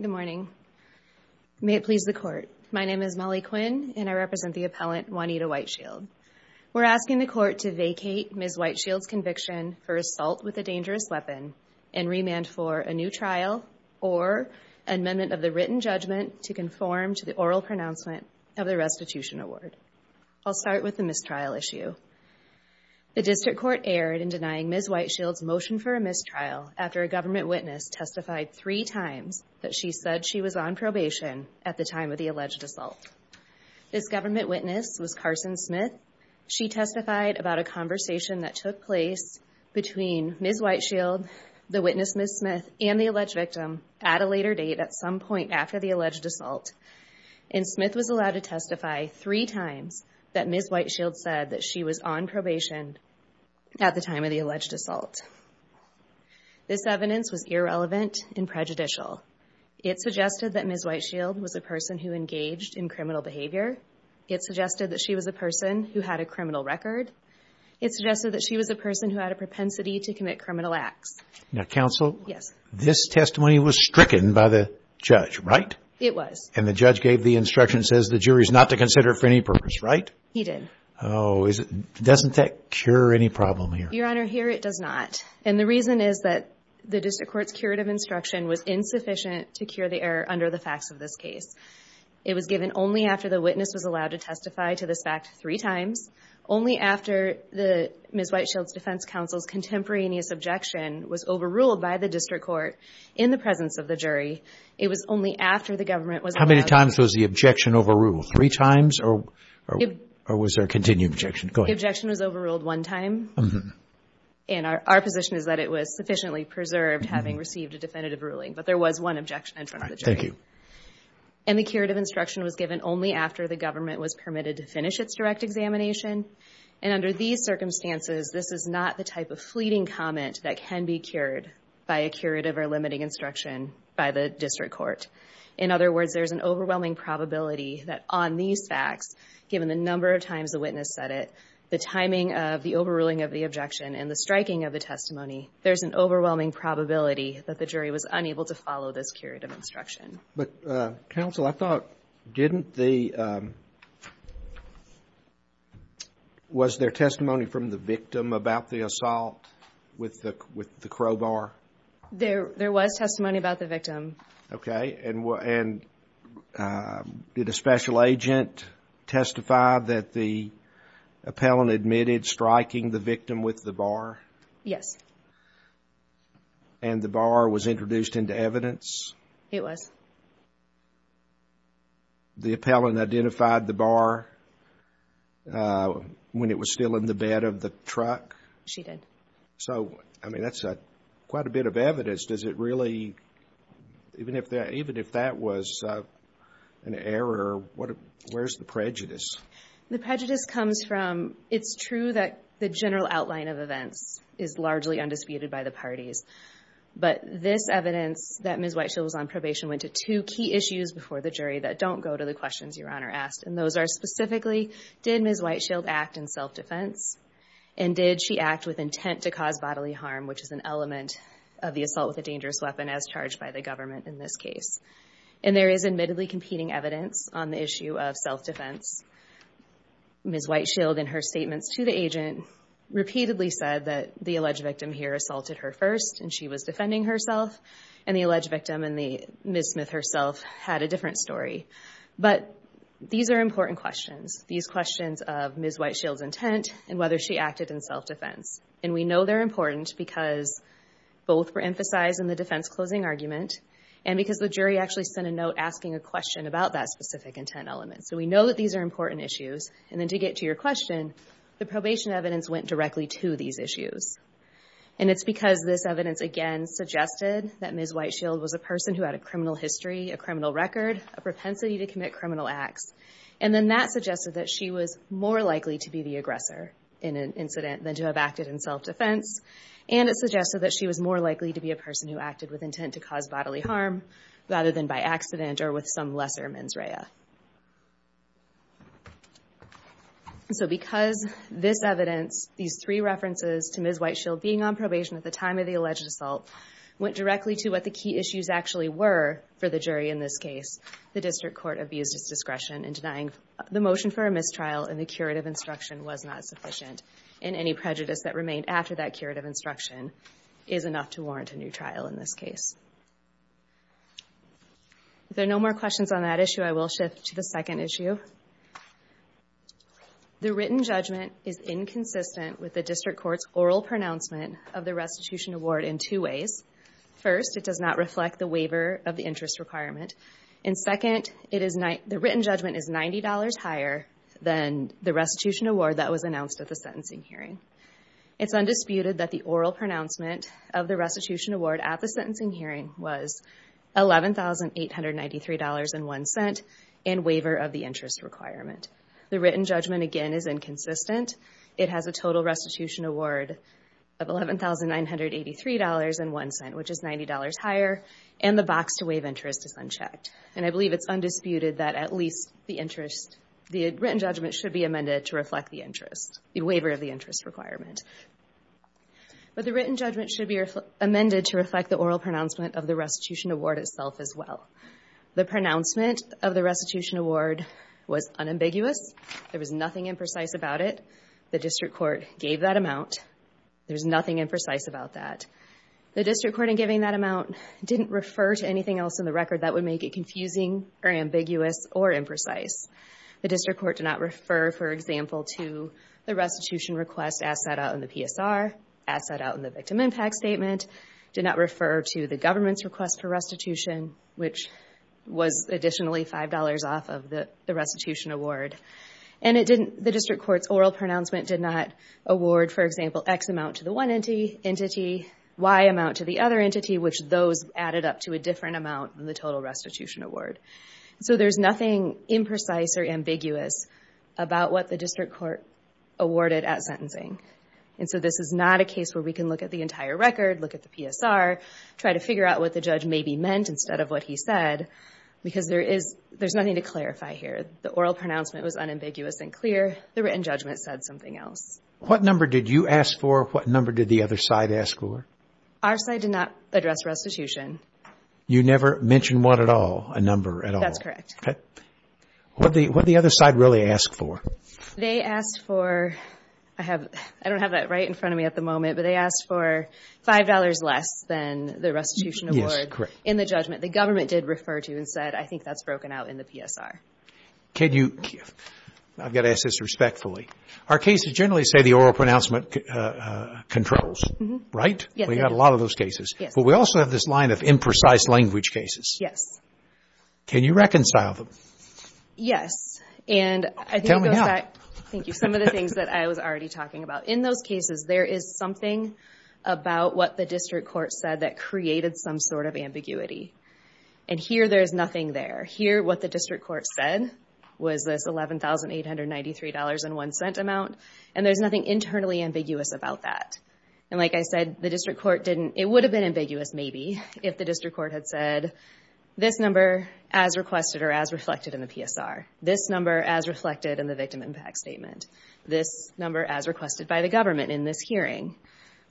Good morning. May it please the court. My name is Molly Quinn and I represent the appellant Juanita White Shield. We're asking the court to vacate Ms. White Shield's conviction for assault with a dangerous weapon and remand for a new trial or amendment of the written judgment to conform to the oral pronouncement of the restitution award. I'll start with the mistrial issue. The district court erred in denying Ms. White Shield's motion for a mistrial after a government witness testified three times that she said she was on probation at the time of the alleged assault. This government witness was Carson Smith. She testified about a conversation that took place between Ms. White Shield, the witness Ms. Smith, and the alleged victim at a later date at some point after the alleged assault. And Smith was allowed to testify three times that Ms. White Shield said that she was on probation at the time of the alleged assault. This evidence was irrelevant and prejudicial. It suggested that Ms. White Shield was a person who engaged in criminal behavior. It suggested that she was a person who had a criminal record. It suggested that she was a person who had a propensity to commit criminal acts. Now counsel, this testimony was stricken by the judge, right? It was. And the judge gave the instruction, says the jury is not to consider for any purpose, right? He did. Oh, doesn't that cure any problem here? Your Honor, here it does not. And the reason is that the district court's curative instruction was insufficient to cure the error under the facts of this case. It was given only after the witness was allowed to testify to this fact three times, only after Ms. White Shield's defense counsel's contemporaneous objection was overruled by the district court in the presence of the jury. It was only after the government was allowed to testify. How many times was the objection overruled? Three times? Or was there a continued objection? Go ahead. The objection was overruled one time. And our position is that it was sufficiently preserved having received a definitive ruling. But there was one objection in front of the jury. All right. Thank you. And the curative instruction was given only after the government was permitted to finish its direct examination. And under these facts, given the number of times the witness said it, the timing of the overruling of the objection and the striking of the testimony, there's an overwhelming probability that the jury was unable to follow this curative instruction. But, counsel, I thought, didn't the – was there testimony from the victim about the assault with the crowbar? There was testimony about the victim. Okay. And did a special agent testify that the appellant admitted striking the victim with the bar? Yes. And the bar was introduced into evidence? It was. The appellant identified the bar when it was still in the bed of the truck? She did. So, I mean, that's quite a bit of evidence. Does it really – even if that was an error, what – where's the prejudice? The prejudice comes from – it's true that the general outline of events is largely undisputed by the parties. But this evidence that Ms. Whiteshield was on probation went to two key issues before the jury that don't go to the questions Your Honor asked. And those are specifically, did Ms. Whiteshield act in self-defense? And did she act with intent to cause bodily harm, which is an element of the assault with a dangerous weapon, as charged by the government in this case? And there is admittedly competing evidence on the issue of self-defense. Ms. Whiteshield, in her statements to the agent, repeatedly said that the alleged victim here assaulted her first, and she was defending herself. And the alleged victim and Ms. Smith herself had a different story. But these are important questions. These questions of Ms. Whiteshield's intent and whether she acted in self-defense. And we know they're important because both were emphasized in the defense closing argument, and because the jury actually sent a note asking a question about that specific intent element. So we know that these are important issues. And then to get to your question, the probation evidence went directly to these issues. And it's because this evidence, again, suggested that Ms. Whiteshield was a person who had a criminal history, a criminal record, a propensity to commit criminal acts. And then that suggested that she was more likely to be the aggressor in an incident than to have acted in self-defense. And it suggested that she was more likely to be a person who acted with intent to cause bodily harm, rather than by accident or with some lesser mens rea. So because this evidence, these three references to Ms. Whiteshield being on probation at the time of the trial, were for the jury in this case, the district court abused its discretion in denying the motion for a mistrial, and the curative instruction was not sufficient. And any prejudice that remained after that curative instruction is enough to warrant a new trial in this case. If there are no more questions on that issue, I will shift to the second issue. The written judgment is inconsistent with the district court's oral pronouncement of the restitution award in two ways. First, it does not reflect the waiver of the interest requirement. And second, the written judgment is $90 higher than the restitution award that was announced at the sentencing hearing. It's undisputed that the oral pronouncement of the restitution award at the sentencing hearing was $11,893.01 in waiver of the interest requirement. And the box to waive interest is unchecked. And I believe it's undisputed that at least the interest, the written judgment should be amended to reflect the interest, the waiver of the interest requirement. But the written judgment should be amended to reflect the oral pronouncement of the restitution award itself as well. The pronouncement of the restitution award was unambiguous. There was nothing imprecise about it. The district court gave that amount. There's nothing imprecise about that. The district court in giving that amount didn't refer to anything else in the record that would make it confusing or ambiguous or imprecise. The district court did not refer, for example, to the restitution request as set out in the PSR, as set out in the victim impact statement, did not refer to the government's request for restitution, which was additionally $5 off of the restitution award. And the district court's oral pronouncement did not award, for example, X amount to the one entity, Y amount to the other entity, which those added up to a different amount than the total restitution award. So there's nothing imprecise or ambiguous about what the district court awarded at sentencing. And so this is not a case where we can look at the entire record, look at the PSR, try to figure out what the judge maybe asked for, and then verify here. The oral pronouncement was unambiguous and clear. The written judgment said something else. What number did you ask for? What number did the other side ask for? Our side did not address restitution. You never mentioned what at all, a number at all? That's correct. What did the other side really ask for? They asked for, I don't have that right in front of me at the moment, but they asked for $5 less than the restitution award in the judgment. The government did refer to and said, I think that's broken out in the PSR. I've got to ask this respectfully. Our cases generally say the oral pronouncement controls, right? We've got a lot of those cases. But we also have this line of imprecise language cases. Yes. Can you reconcile them? Tell me now. Yes. And I think it goes back to some of the things that I was already talking about. In those cases, there is something about what the district court said that created some sort of ambiguity. And here, there's nothing there. Here, what the district court said was this $11,893.01 amount, and there's nothing internally ambiguous about that. And like I said, the district court didn't, it would have been ambiguous maybe if the district court had said, this number as requested or as reflected in the PSR. This number as reflected in the victim impact statement. This number as requested by the government in this hearing.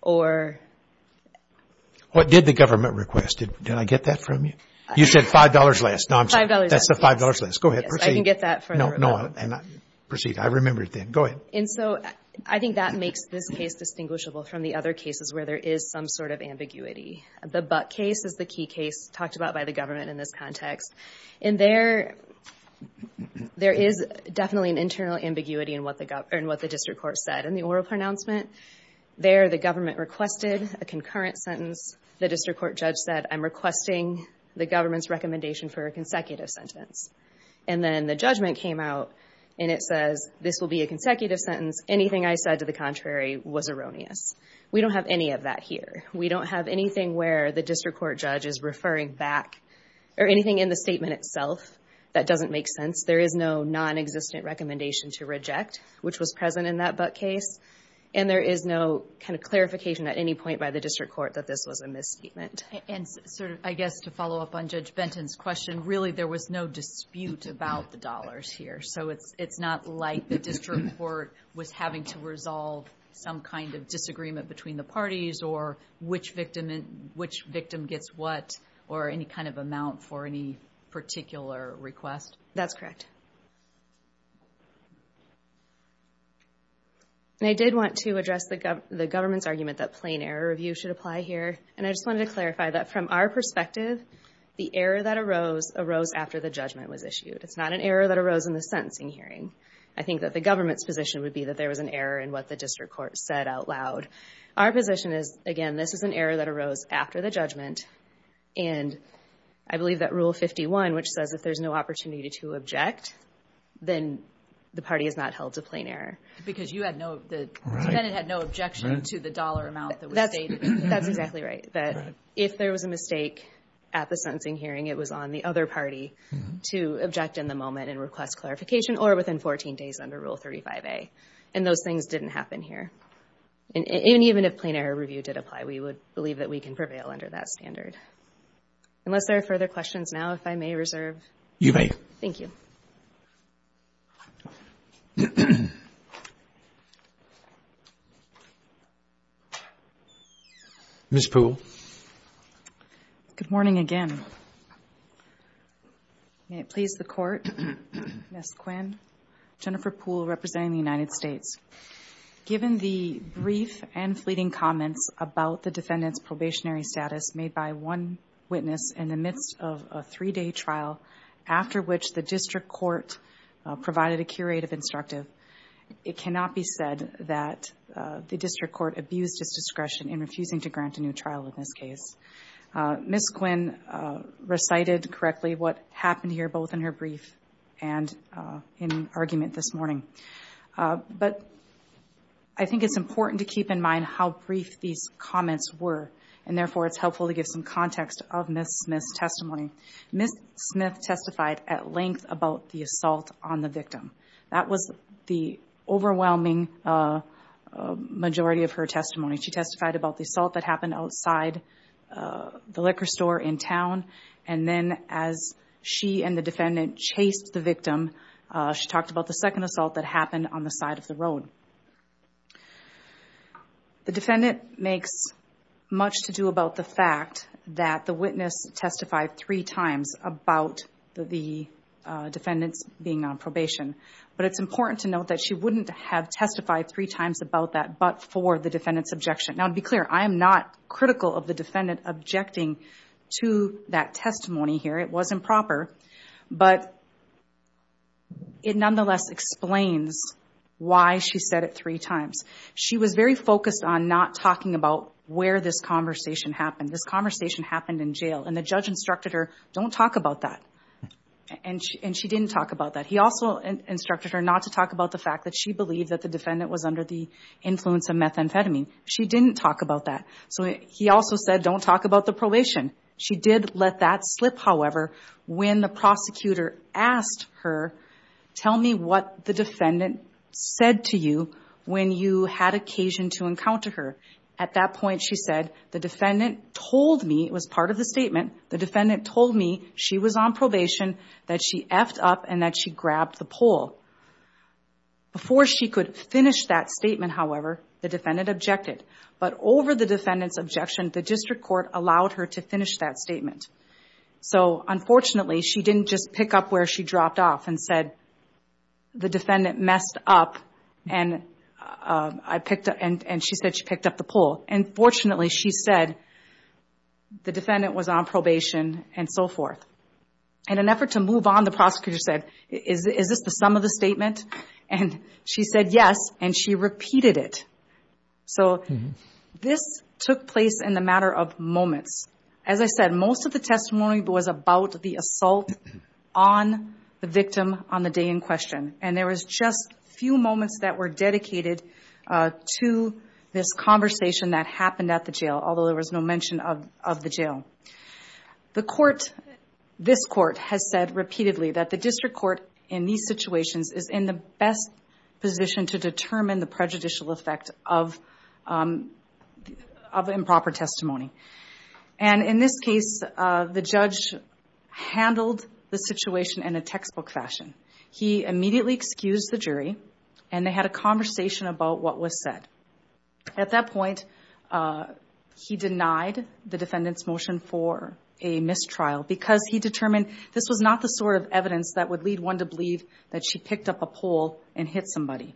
What did the government request? Did I get that from you? You said $5 less. $5 less. Go ahead. Proceed. Yes, I can get that for the rebuttal. Proceed. I remembered that. Go ahead. And so, I think that makes this case distinguishable from the other cases where there is some sort of ambiguity. The Buck case is the key case talked about by the government in this context. In there, there is definitely an internal ambiguity in what the district court said. In the oral pronouncement, there the government requested a concurrent sentence. The district court judge said, I'm requesting the government's recommendation for a consecutive sentence. And then the judgment came out, and it says, this will be a consecutive sentence. Anything I said to the contrary was erroneous. We don't have any of that here. We don't have anything where the district court judge is referring back, or anything in the statement itself that doesn't make sense. There is no non-existent recommendation to reject, which was present in that Buck case. And there is no kind of clarification at any point by the district court that this was a misstatement. And sort of, I guess, to follow up on Judge Benton's question, really, there was no dispute about the dollars here. So, it's not like the district court was having to resolve some kind of disagreement between the parties, or which victim gets what, or any kind of amount for any particular request. That's correct. And I did want to address the government's argument that plain error review should apply here. And I just wanted to clarify that from our perspective, the error that arose, arose after the judgment was issued. It's not an error that arose in the sentencing hearing. I think that the government's position would be that there was an error in what the district court said out loud. Our position is, again, this is an error that arose after the judgment. And I believe that Rule 51, which says if there's no opportunity to object, then the party is not held to plain error. Because you had no, the defendant had no objection to the dollar amount that was stated. That's exactly right. That if there was a mistake at the sentencing hearing, it was on the other party to object in the moment and request clarification, or within 14 days under Rule 35A. And those things didn't happen here. And even if plain error review did apply, we would believe that we can prevail under that standard. Unless there are further questions now, if I may reserve. Ms. Poole. Good morning again. May it please the Court. Ms. Quinn. Jennifer Poole, representing the United States. Thank you, Mr. Chief Justice. I think it's important to keep in mind how brief these comments were. And therefore, it's helpful to give some context of Ms. Smith's testimony. Ms. Smith testified at length about the assault on the victim. That was the overwhelming majority of her testimony. She testified about the assault that happened outside the liquor store in town. And then as she and the defendant chased the victim, she talked about the second assault that happened on the side of the road. The defendant makes much to do about the fact that the witness testified three times about the defendant's being on probation. But it's important to note that she wouldn't have testified three times about that but for the defendant's objection. Now, to be clear, I am not critical of the defendant objecting to that testimony here. It wasn't proper, but it nonetheless explains why she said it three times. She was very focused on not talking about where this conversation happened. This conversation happened in jail, and the judge instructed her, don't talk about that. And she didn't talk about that. He also instructed her not to talk about the fact that she believed that the defendant was under the influence of methamphetamine. She didn't talk about that. So he also said, don't talk about the probation. She did let that slip, however, when the prosecutor asked her, tell me what the defendant said to you when you had occasion to encounter her. At that point, she said, the defendant told me, it was part of the statement, the defendant told me she was on probation, that she effed up and that she grabbed the pole. Before she could finish that statement, however, the defendant objected. But over the defendant's objection, the district court allowed her to finish that statement. So unfortunately, she didn't just pick up where she dropped off and said, the defendant messed up and I picked up, and she said she picked up the pole. And fortunately, she said, the defendant was on probation and so forth. In an effort to move on, the prosecutor said, is this the sum of the statement? And she said yes, and she repeated it. So this took place in a matter of moments. As I said, most of the testimony was about the assault on the victim on the day in question. And there was just a few moments that were dedicated to this conversation that happened at the jail, although there was no mention of the jail. The court, this court, has said repeatedly that the district court in these situations is in the best position to determine the prejudicial effect of improper testimony. And in this case, the judge handled the situation in a textbook fashion. He immediately excused the jury, and they had a conversation about what was said. At that point, he denied the defendant's motion for a mistrial, because he determined this was not the sort of evidence that would lead one to believe that she picked up a pole and hit somebody.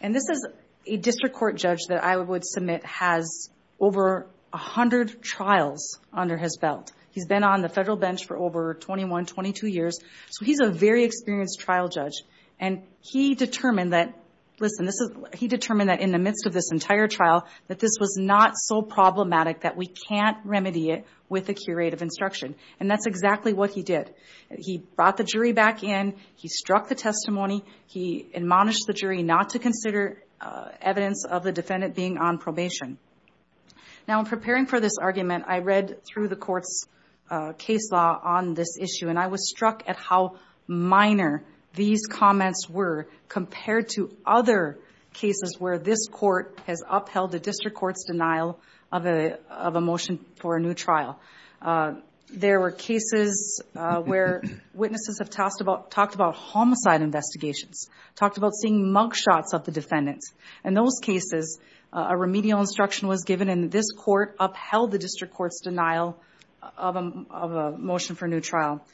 And this is a district court judge that I would submit has over 100 trials under his belt. He's been on the federal bench for over 21, 22 years, so he's a very experienced trial judge. And he determined that, listen, he determined that in the midst of this entire trial, that this was not so problematic that we can't remedy it with a curative instruction. And that's exactly what he did. He brought the jury back in, he struck the testimony, he admonished the jury not to consider evidence of the defendant being on probation. Now, in preparing for this argument, I read through the court's case law on this issue, and I was struck at how minor these comments were compared to other cases where this court has upheld the district court's denial of a motion for a new trial. There were cases where witnesses have talked about homicide investigations, talked about seeing mugshots of the defendants. In those cases, a remedial instruction was given, and this court upheld the district court's denial of a motion for a new trial.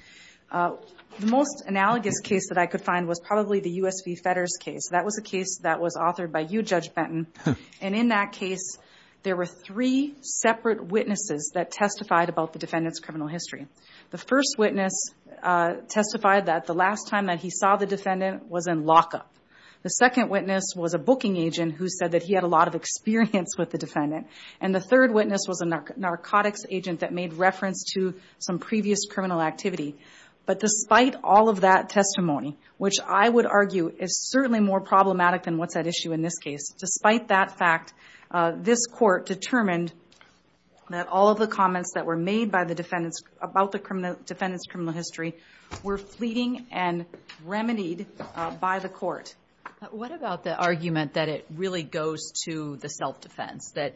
The most analogous case that I could find was probably the U.S. v. Fedders case. That was a case that was authored by you, Judge Benton. And in that case, there were three separate witnesses that testified about the defendant's criminal history. The first witness testified that the last time that he saw the defendant was in lockup. The second witness was a booking agent who said that he had a lot of experience with the defendant. And the third witness was a narcotics agent that made reference to some previous criminal activity. But despite all of that testimony, which I would argue is certainly more problematic than what's at issue in this case, despite that fact, this court determined that all of the comments that were made about the defendant's criminal history were fleeting and remedied by the court. What about the argument that it really goes to the self-defense, that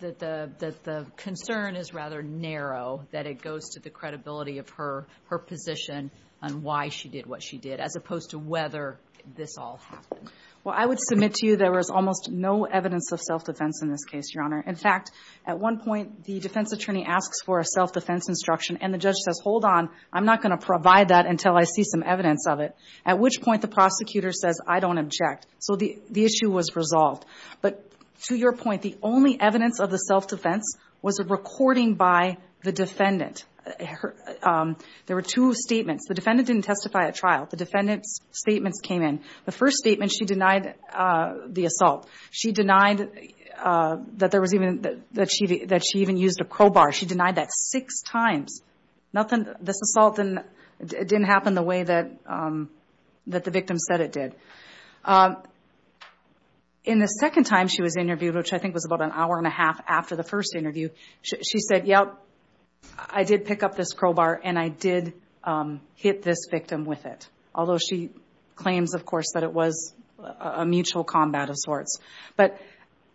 the concern is rather narrow, that it goes to the credibility of her position on why she did what she did as opposed to whether this all happened? Well, I would submit to you there was almost no evidence of self-defense in this case, Your Honor. In fact, at one point, the defense attorney asks for a self-defense instruction, and the judge says, hold on, I'm not going to provide that until I see some evidence of it, at which point the prosecutor says, I don't object. So the issue was resolved. But to your point, the only evidence of the self-defense was a recording by the defendant. There were two statements. The defendant didn't testify at trial. The defendant's statements came in. The first statement, she denied the assault. She denied that she even used a crowbar. She denied that six times. This assault didn't happen the way that the victim said it did. In the second time she was interviewed, which I think was about an hour and a half after the first interview, she said, yep, I did pick up this crowbar and I did hit this victim with it, although she claims, of course, that it was a mutual combat of sorts. But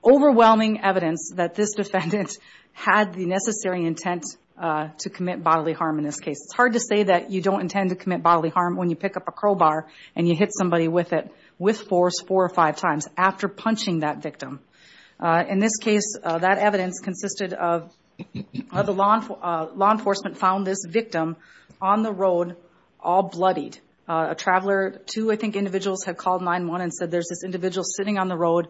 overwhelming evidence that this defendant had the necessary intent to commit bodily harm in this case. It's hard to say that you don't intend to commit bodily harm when you pick up a crowbar and you hit somebody with it with force four or five times after punching that victim. In this case, that evidence consisted of the law enforcement found this victim on the road all bloodied, a traveler. Two, I think, individuals have called 9-1 and said there's this individual sitting on the road.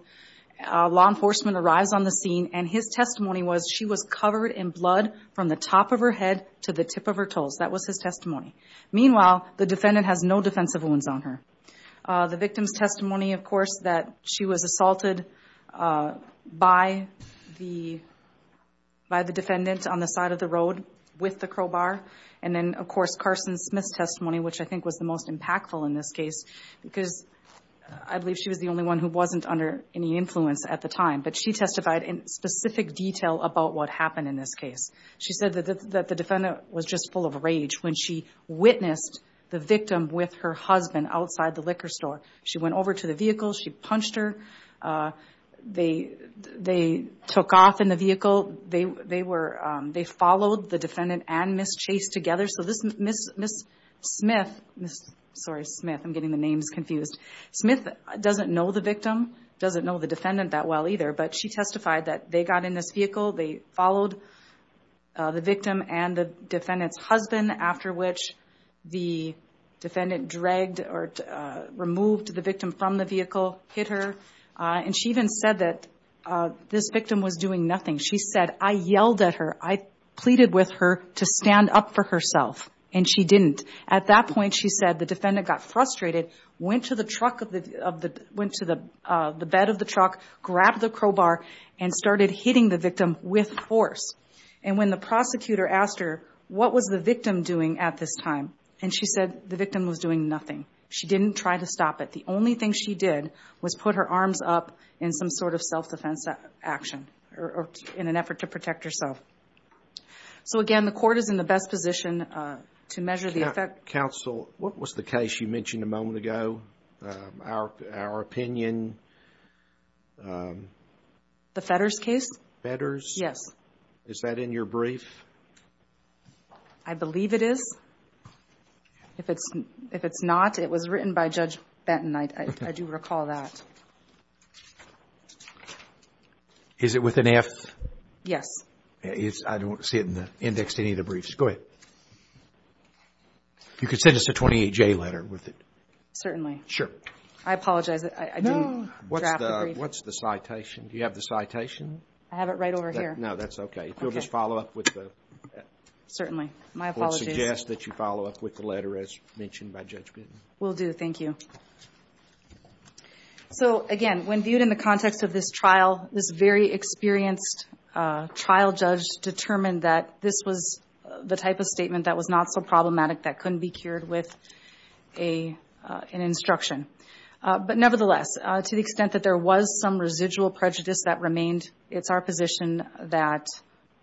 Law enforcement arrives on the scene and his testimony was she was covered in blood from the top of her head to the tip of her toes. That was his testimony. Meanwhile, the defendant has no defensive wounds on her. The victim's testimony, of course, that she was assaulted by the defendant on the side of the road with the crowbar. And then, of course, Carson Smith's testimony, which I think was the most impactful in this case, because I believe she was the only one who wasn't under any influence at the time. But she testified in specific detail about what happened in this case. She said that the defendant was just full of rage when she witnessed the victim with her husband outside the liquor store. She went over to the vehicle. She punched her. They took off in the vehicle. They followed the defendant and Ms. Chase together. Sorry, Smith. I'm getting the names confused. Smith doesn't know the victim, doesn't know the defendant that well either. But she testified that they got in this vehicle. They followed the victim and the defendant's husband, after which the defendant dragged or removed the victim from the vehicle, hit her. And she even said that this victim was doing nothing. She said, I yelled at her. I pleaded with her to stand up for herself. And she didn't. At that point, she said, the defendant got frustrated, went to the bed of the truck, grabbed the crowbar, and started hitting the victim with force. And she said the victim was doing nothing. She didn't try to stop it. The only thing she did was put her arms up in some sort of self-defense action, or in an effort to protect herself. So again, the court is in the best position to measure the effect. Counsel, what was the case you mentioned a moment ago? Our opinion? The Fetters case? Fetters? Yes. Is that in your brief? I believe it is. If it's not, it was written by Judge Benton. I do recall that. Is it with an F? Yes. I don't see it in the index of any of the briefs. Go ahead. You could send us a 28-J letter with it. Certainly. I apologize. I didn't draft the brief. What's the citation? Do you have the citation? I have it right over here. No, that's okay. If you'll just follow up with the letter as mentioned by Judge Benton. Will do. Thank you. So again, when viewed in the context of this trial, this very experienced trial judge determined that this was the type of statement that was not so problematic that couldn't be cured with an instruction. But nevertheless, to the extent that there was some residual prejudice that remained, it's our position that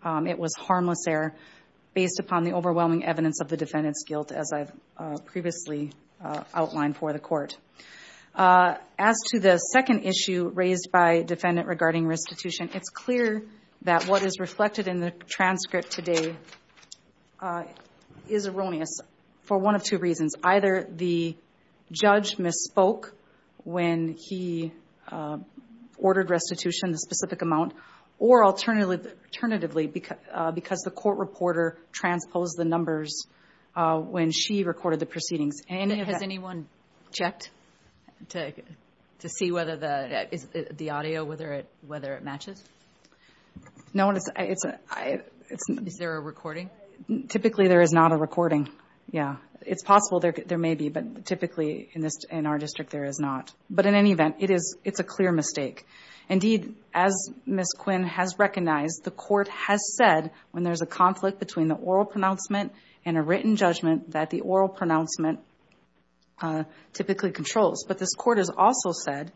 it was harmless error based upon the report. As to the second issue raised by defendant regarding restitution, it's clear that what is reflected in the transcript today is erroneous for one of two reasons. Either the judge misspoke when he ordered restitution, the specific amount, or alternatively because the court reporter transposed the numbers when she recorded the proceedings. Has anyone checked to see whether the audio, whether it matches? No. Is there a recording? Typically there is not a recording. Yeah. It's possible there may be, but typically in our district there is not. But in any event, it's a clear mistake. Indeed, as Ms. Quinn has said, this is a written judgment and a written judgment that the oral pronouncement typically controls. But this court has also said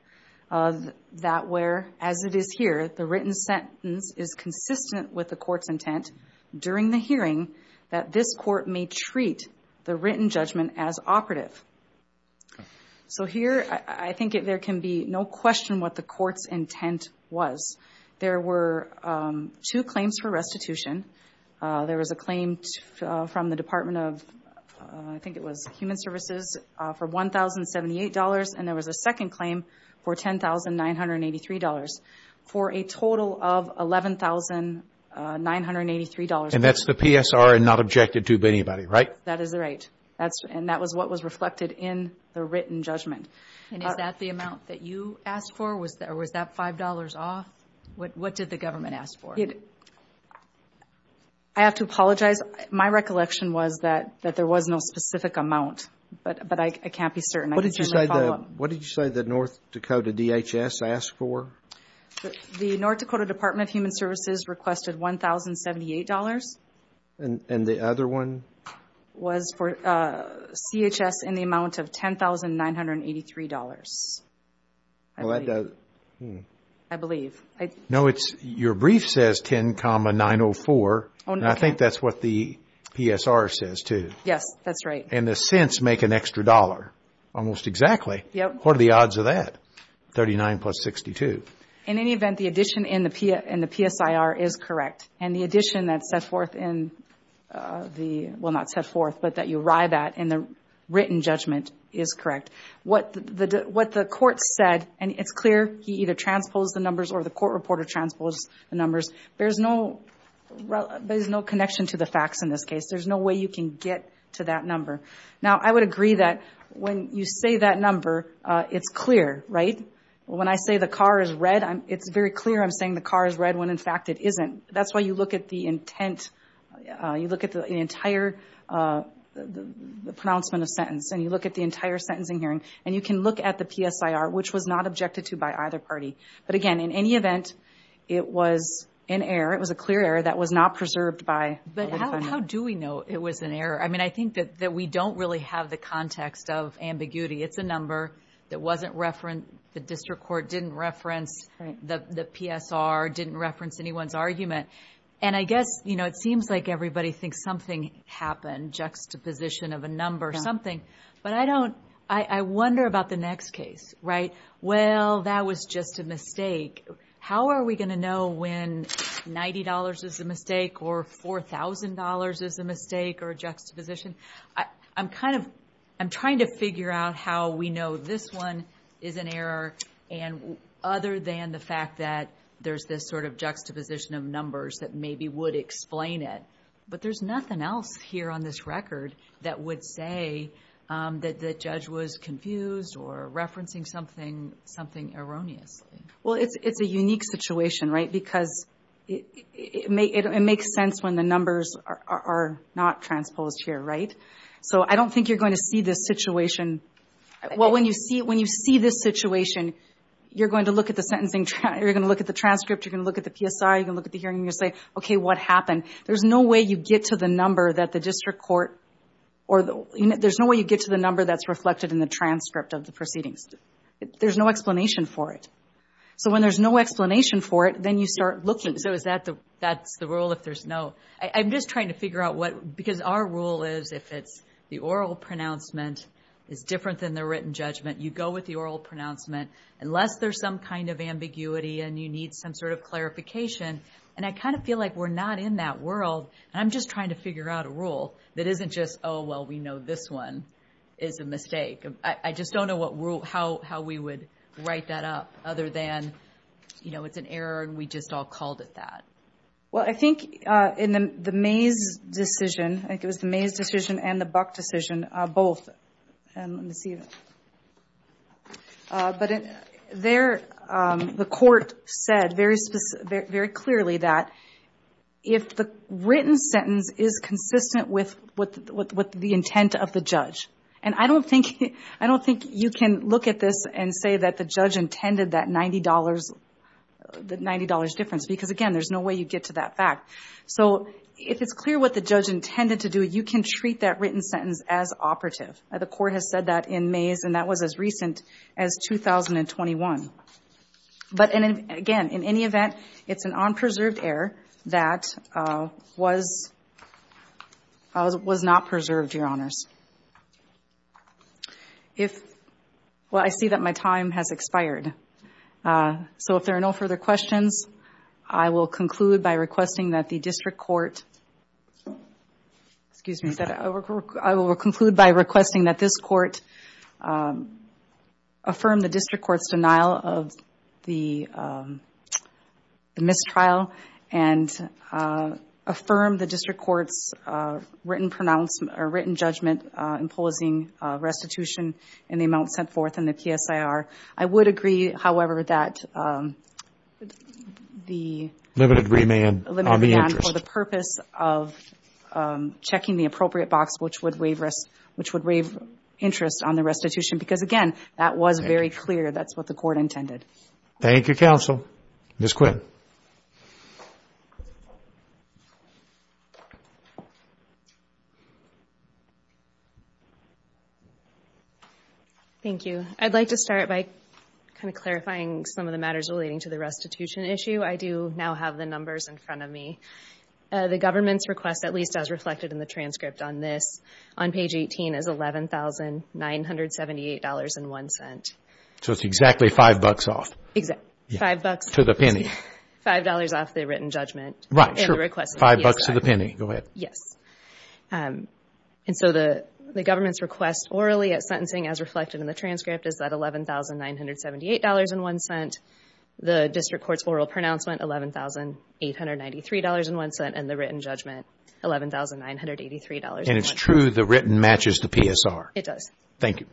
that where, as it is here, the written sentence is consistent with the court's intent during the hearing that this court may treat the written judgment as operative. So here I think there can be no question what the court's intent was. There were two claims for restitution. There was a claim from the Department of, I think it was Human Services, for $1,078. And there was a second claim for $10,983. For a total of $11,983. And that's the PSR and not objected to by anybody, right? That is right. And that was what was reflected in the written judgment. And is that the amount that you asked for? Or was that $5 off? What did the government ask for? I have to apologize. My recollection was that there was no specific amount. But I can't be certain. What did you say that North Dakota DHS asked for? The North Dakota Department of Human Services requested $1,078. And the other one? It was for CHS in the amount of $10,983. I believe. No, your brief says 10,904. And I think that's what the PSR says too. Yes, that's right. And the cents make an extra dollar. Almost exactly. What are the odds of that? 39 plus 62. In any event, the addition in the PSR is correct. And the addition that's set forth in the, well not set forth, but that you arrive at in the written judgment is correct. What the court said, and it's clear, he either transposed the numbers or the court reporter transposed the numbers. There's no, there's no connection to the facts in this case. There's no way you can get to that number. Now, I would agree that when you say that number, it's clear, right? When I say the car is red, it's very clear I'm saying the car is red when in fact it isn't. That's why you look at the intent, you look at the entire pronouncement of sentence, and you look at the entire sentencing hearing, and you can look at the PSR, which was not objected to by either party. But again, in any event, it was an error. We don't really have the context of ambiguity. It's a number that wasn't referenced. The district court didn't reference the PSR, didn't reference anyone's argument. And I guess, you know, it seems like everybody thinks something happened, juxtaposition of a number, something. But I don't, I wonder about the next case, right? Well, that was just a mistake. How are we going to know when $90 is a mistake or $4,000 is a mistake or juxtaposition? I'm kind of, I'm trying to figure out how we know this one is an error, and other than the fact that there's this sort of juxtaposition of numbers that maybe would explain it. But there's nothing else here on this record that would say that the judge was confused or referencing something erroneously. Well, it's a unique situation, right? Because it makes sense when the numbers are not transposed here, right? So I don't think you're going to see this situation. Well, when you see this situation, you're going to look at the sentencing, you're going to look at the transcript, you're going to look at the PSR, you're going to look at the hearing and you're going to say, okay, what happened? There's no way you get to the number that the district court, or there's no way you get to the number that's reflected in the transcript of the proceedings. There's no explanation for it. So when there's no explanation for it, then you start looking. So is that the rule if there's no, I'm just trying to figure out what, because our rule is if it's the oral pronouncement is different than the written judgment, you go with the oral pronouncement, unless there's some kind of ambiguity and you need some sort of clarification. And I kind of feel like we're not in that world. And I'm just trying to figure out a rule that isn't just, oh, well, we know this one is a mistake. I just don't know what rule, how we would write that up other than, you know, it's an error and we just all called it that. Well, I think in the Mays decision, I think it was the Mays decision and the Buck decision, both, and let me see, but there the court said very clearly that if the written sentence is consistent with the intent of the judge, and I don't think you can look at this and say that the judge intended that $90 difference, because again, there's no way you get to that fact. So if it's clear what the judge intended to do, you can treat that written sentence as operative. The court has said that in Mays, and that was as recent as 2021. But again, in any event, it's an unpreserved error that was not preserved, Your Honors. Well, I see that my time has expired. So if there are no further questions, I will conclude by requesting that the district court, excuse me, I will conclude by requesting that this court affirm the district court's denial of the mistrial and affirm the district court's written judgment imposing restitution in the amount set forth in the PSIR. I would agree, however, that the... Limited remand on the interest. Limited remand for the purpose of checking the appropriate box, which would waive interest on the restitution, because again, that was very clear. That's what the court intended. Thank you, counsel. Ms. Quinn. Thank you. I'd like to start by kind of clarifying some of the matters relating to the restitution issue. I do now have the numbers in front of me. The government's request, at least as reflected in the transcript on this, on page 18 is $11,978.01. So it's exactly five bucks off. Exactly. Five bucks. To the penny. Five dollars off the written judgment. Right. Sure. Five bucks to the penny. Go ahead. Yes. And so the government's request orally at sentencing, as reflected in the transcript, is that $11,978.01. The district court's oral pronouncement, $11,893.01, and the written judgment, $11,983.01. And it's true the written matches the PSR. It does. Thank you.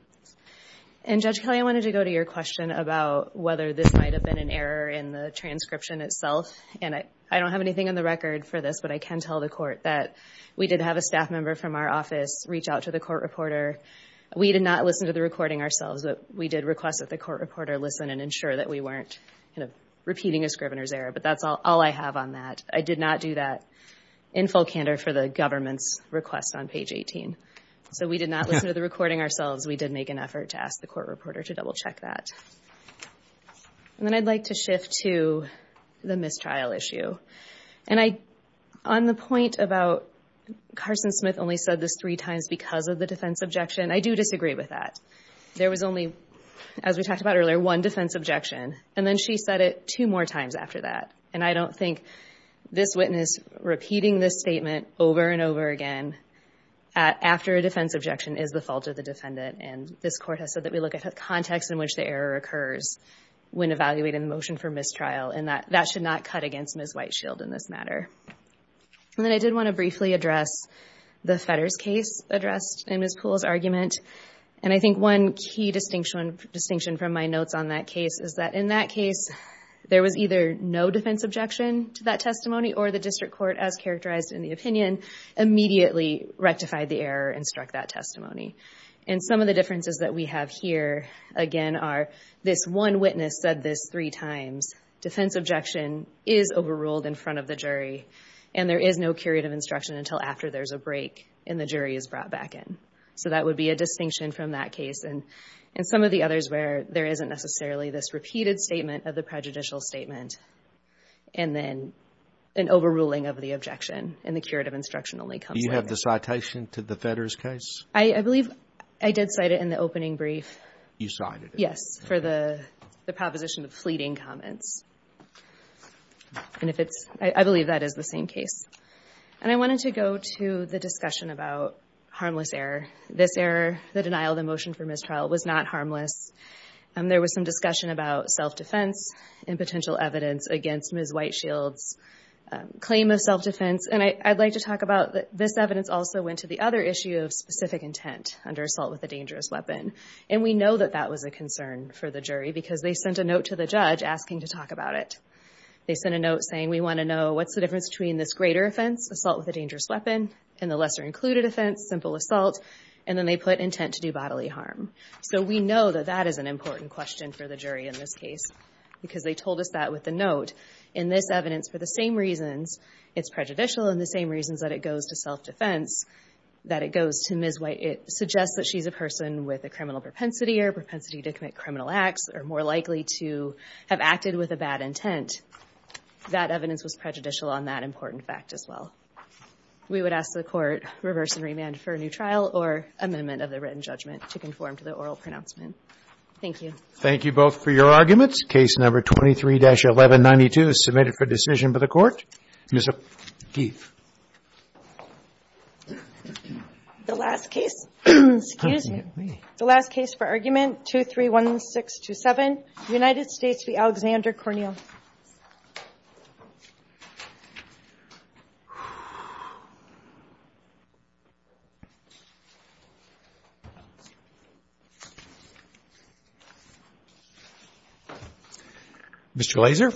And Judge Kelley, I wanted to go to your question about whether this might have been an error in the transcription itself. And I don't have anything on the record for this, but I can tell the court that we did have a staff member from our office reach out to the court reporter. We did not listen to the recording ourselves, but we did request that the court reporter listen and ensure that we weren't repeating a scrivener's error. But that's all I have on that. I did not do that in full candor for the government's request on page 18. So we did not listen to the recording ourselves. We did make an effort to ask the court reporter to double-check that. And then I'd like to shift to the mistrial issue. On the point about Carson Smith only said this three times because of the defense objection, I do disagree with that. There was only, as we talked about earlier, one defense objection. And then she said it two more times after that. And I don't think this witness repeating this statement over and over again after a defense objection is the fault of the defendant. And this court has said that we look at the context in which the error occurs when evaluating the motion for mistrial. And that should not cut against Ms. Whiteshield in this matter. And then I did want to briefly address the Fedders case addressed in Ms. Poole's argument. And I think one key distinction from my notes on that case is that in that case, there was either no defense objection to that testimony or the district court, as characterized in the opinion, immediately rectified the error and struck that testimony. And some of the differences that we have here, again, are this one witness said this three times. Defense objection is overruled in front of the jury. And there is no curative instruction until after there's a break and the jury is brought back in. So that would be a distinction from that case. And some of the others where there isn't necessarily this repeated statement of the prejudicial statement and then an overruling of the objection and the curative instruction only comes later. Do you have the citation to the Fedders case? I believe I did cite it in the opening brief. You cited it. Yes, for the proposition of fleeting comments. And I believe that is the same case. And I wanted to go to the discussion about harmless error. This error, the denial of the motion for mistrial, was not harmless. There was some discussion about self-defense and potential evidence against Ms. White Shield's claim of self-defense. And I'd like to talk about this evidence also went to the other issue of specific intent under assault with a dangerous weapon. And we know that that was a concern for the jury because they sent a note to the judge asking to talk about it. They sent a note saying, we want to know what's the difference between this greater offense, assault with a dangerous weapon, and the lesser included offense, simple assault. And then they put intent to do bodily harm. So we know that that is an important question for the jury in this case because they told us that with the note. In this evidence, for the same reasons it's prejudicial and the same reasons that it goes to self-defense, that it goes to Ms. White, it suggests that she's a person with a criminal propensity or propensity to commit criminal acts or more likely to have acted with a bad intent. That evidence was prejudicial on that important fact as well. We would ask the Court reverse and remand for a new trial or amendment of the written judgment to conform to the oral pronouncement. Thank you. Thank you both for your arguments. Case number 23-1192 is submitted for decision by the Court. Ms. Ageef. The last case, excuse me. The last case for argument 231627, United States v. Alexander Corneal. Mr. Glaser.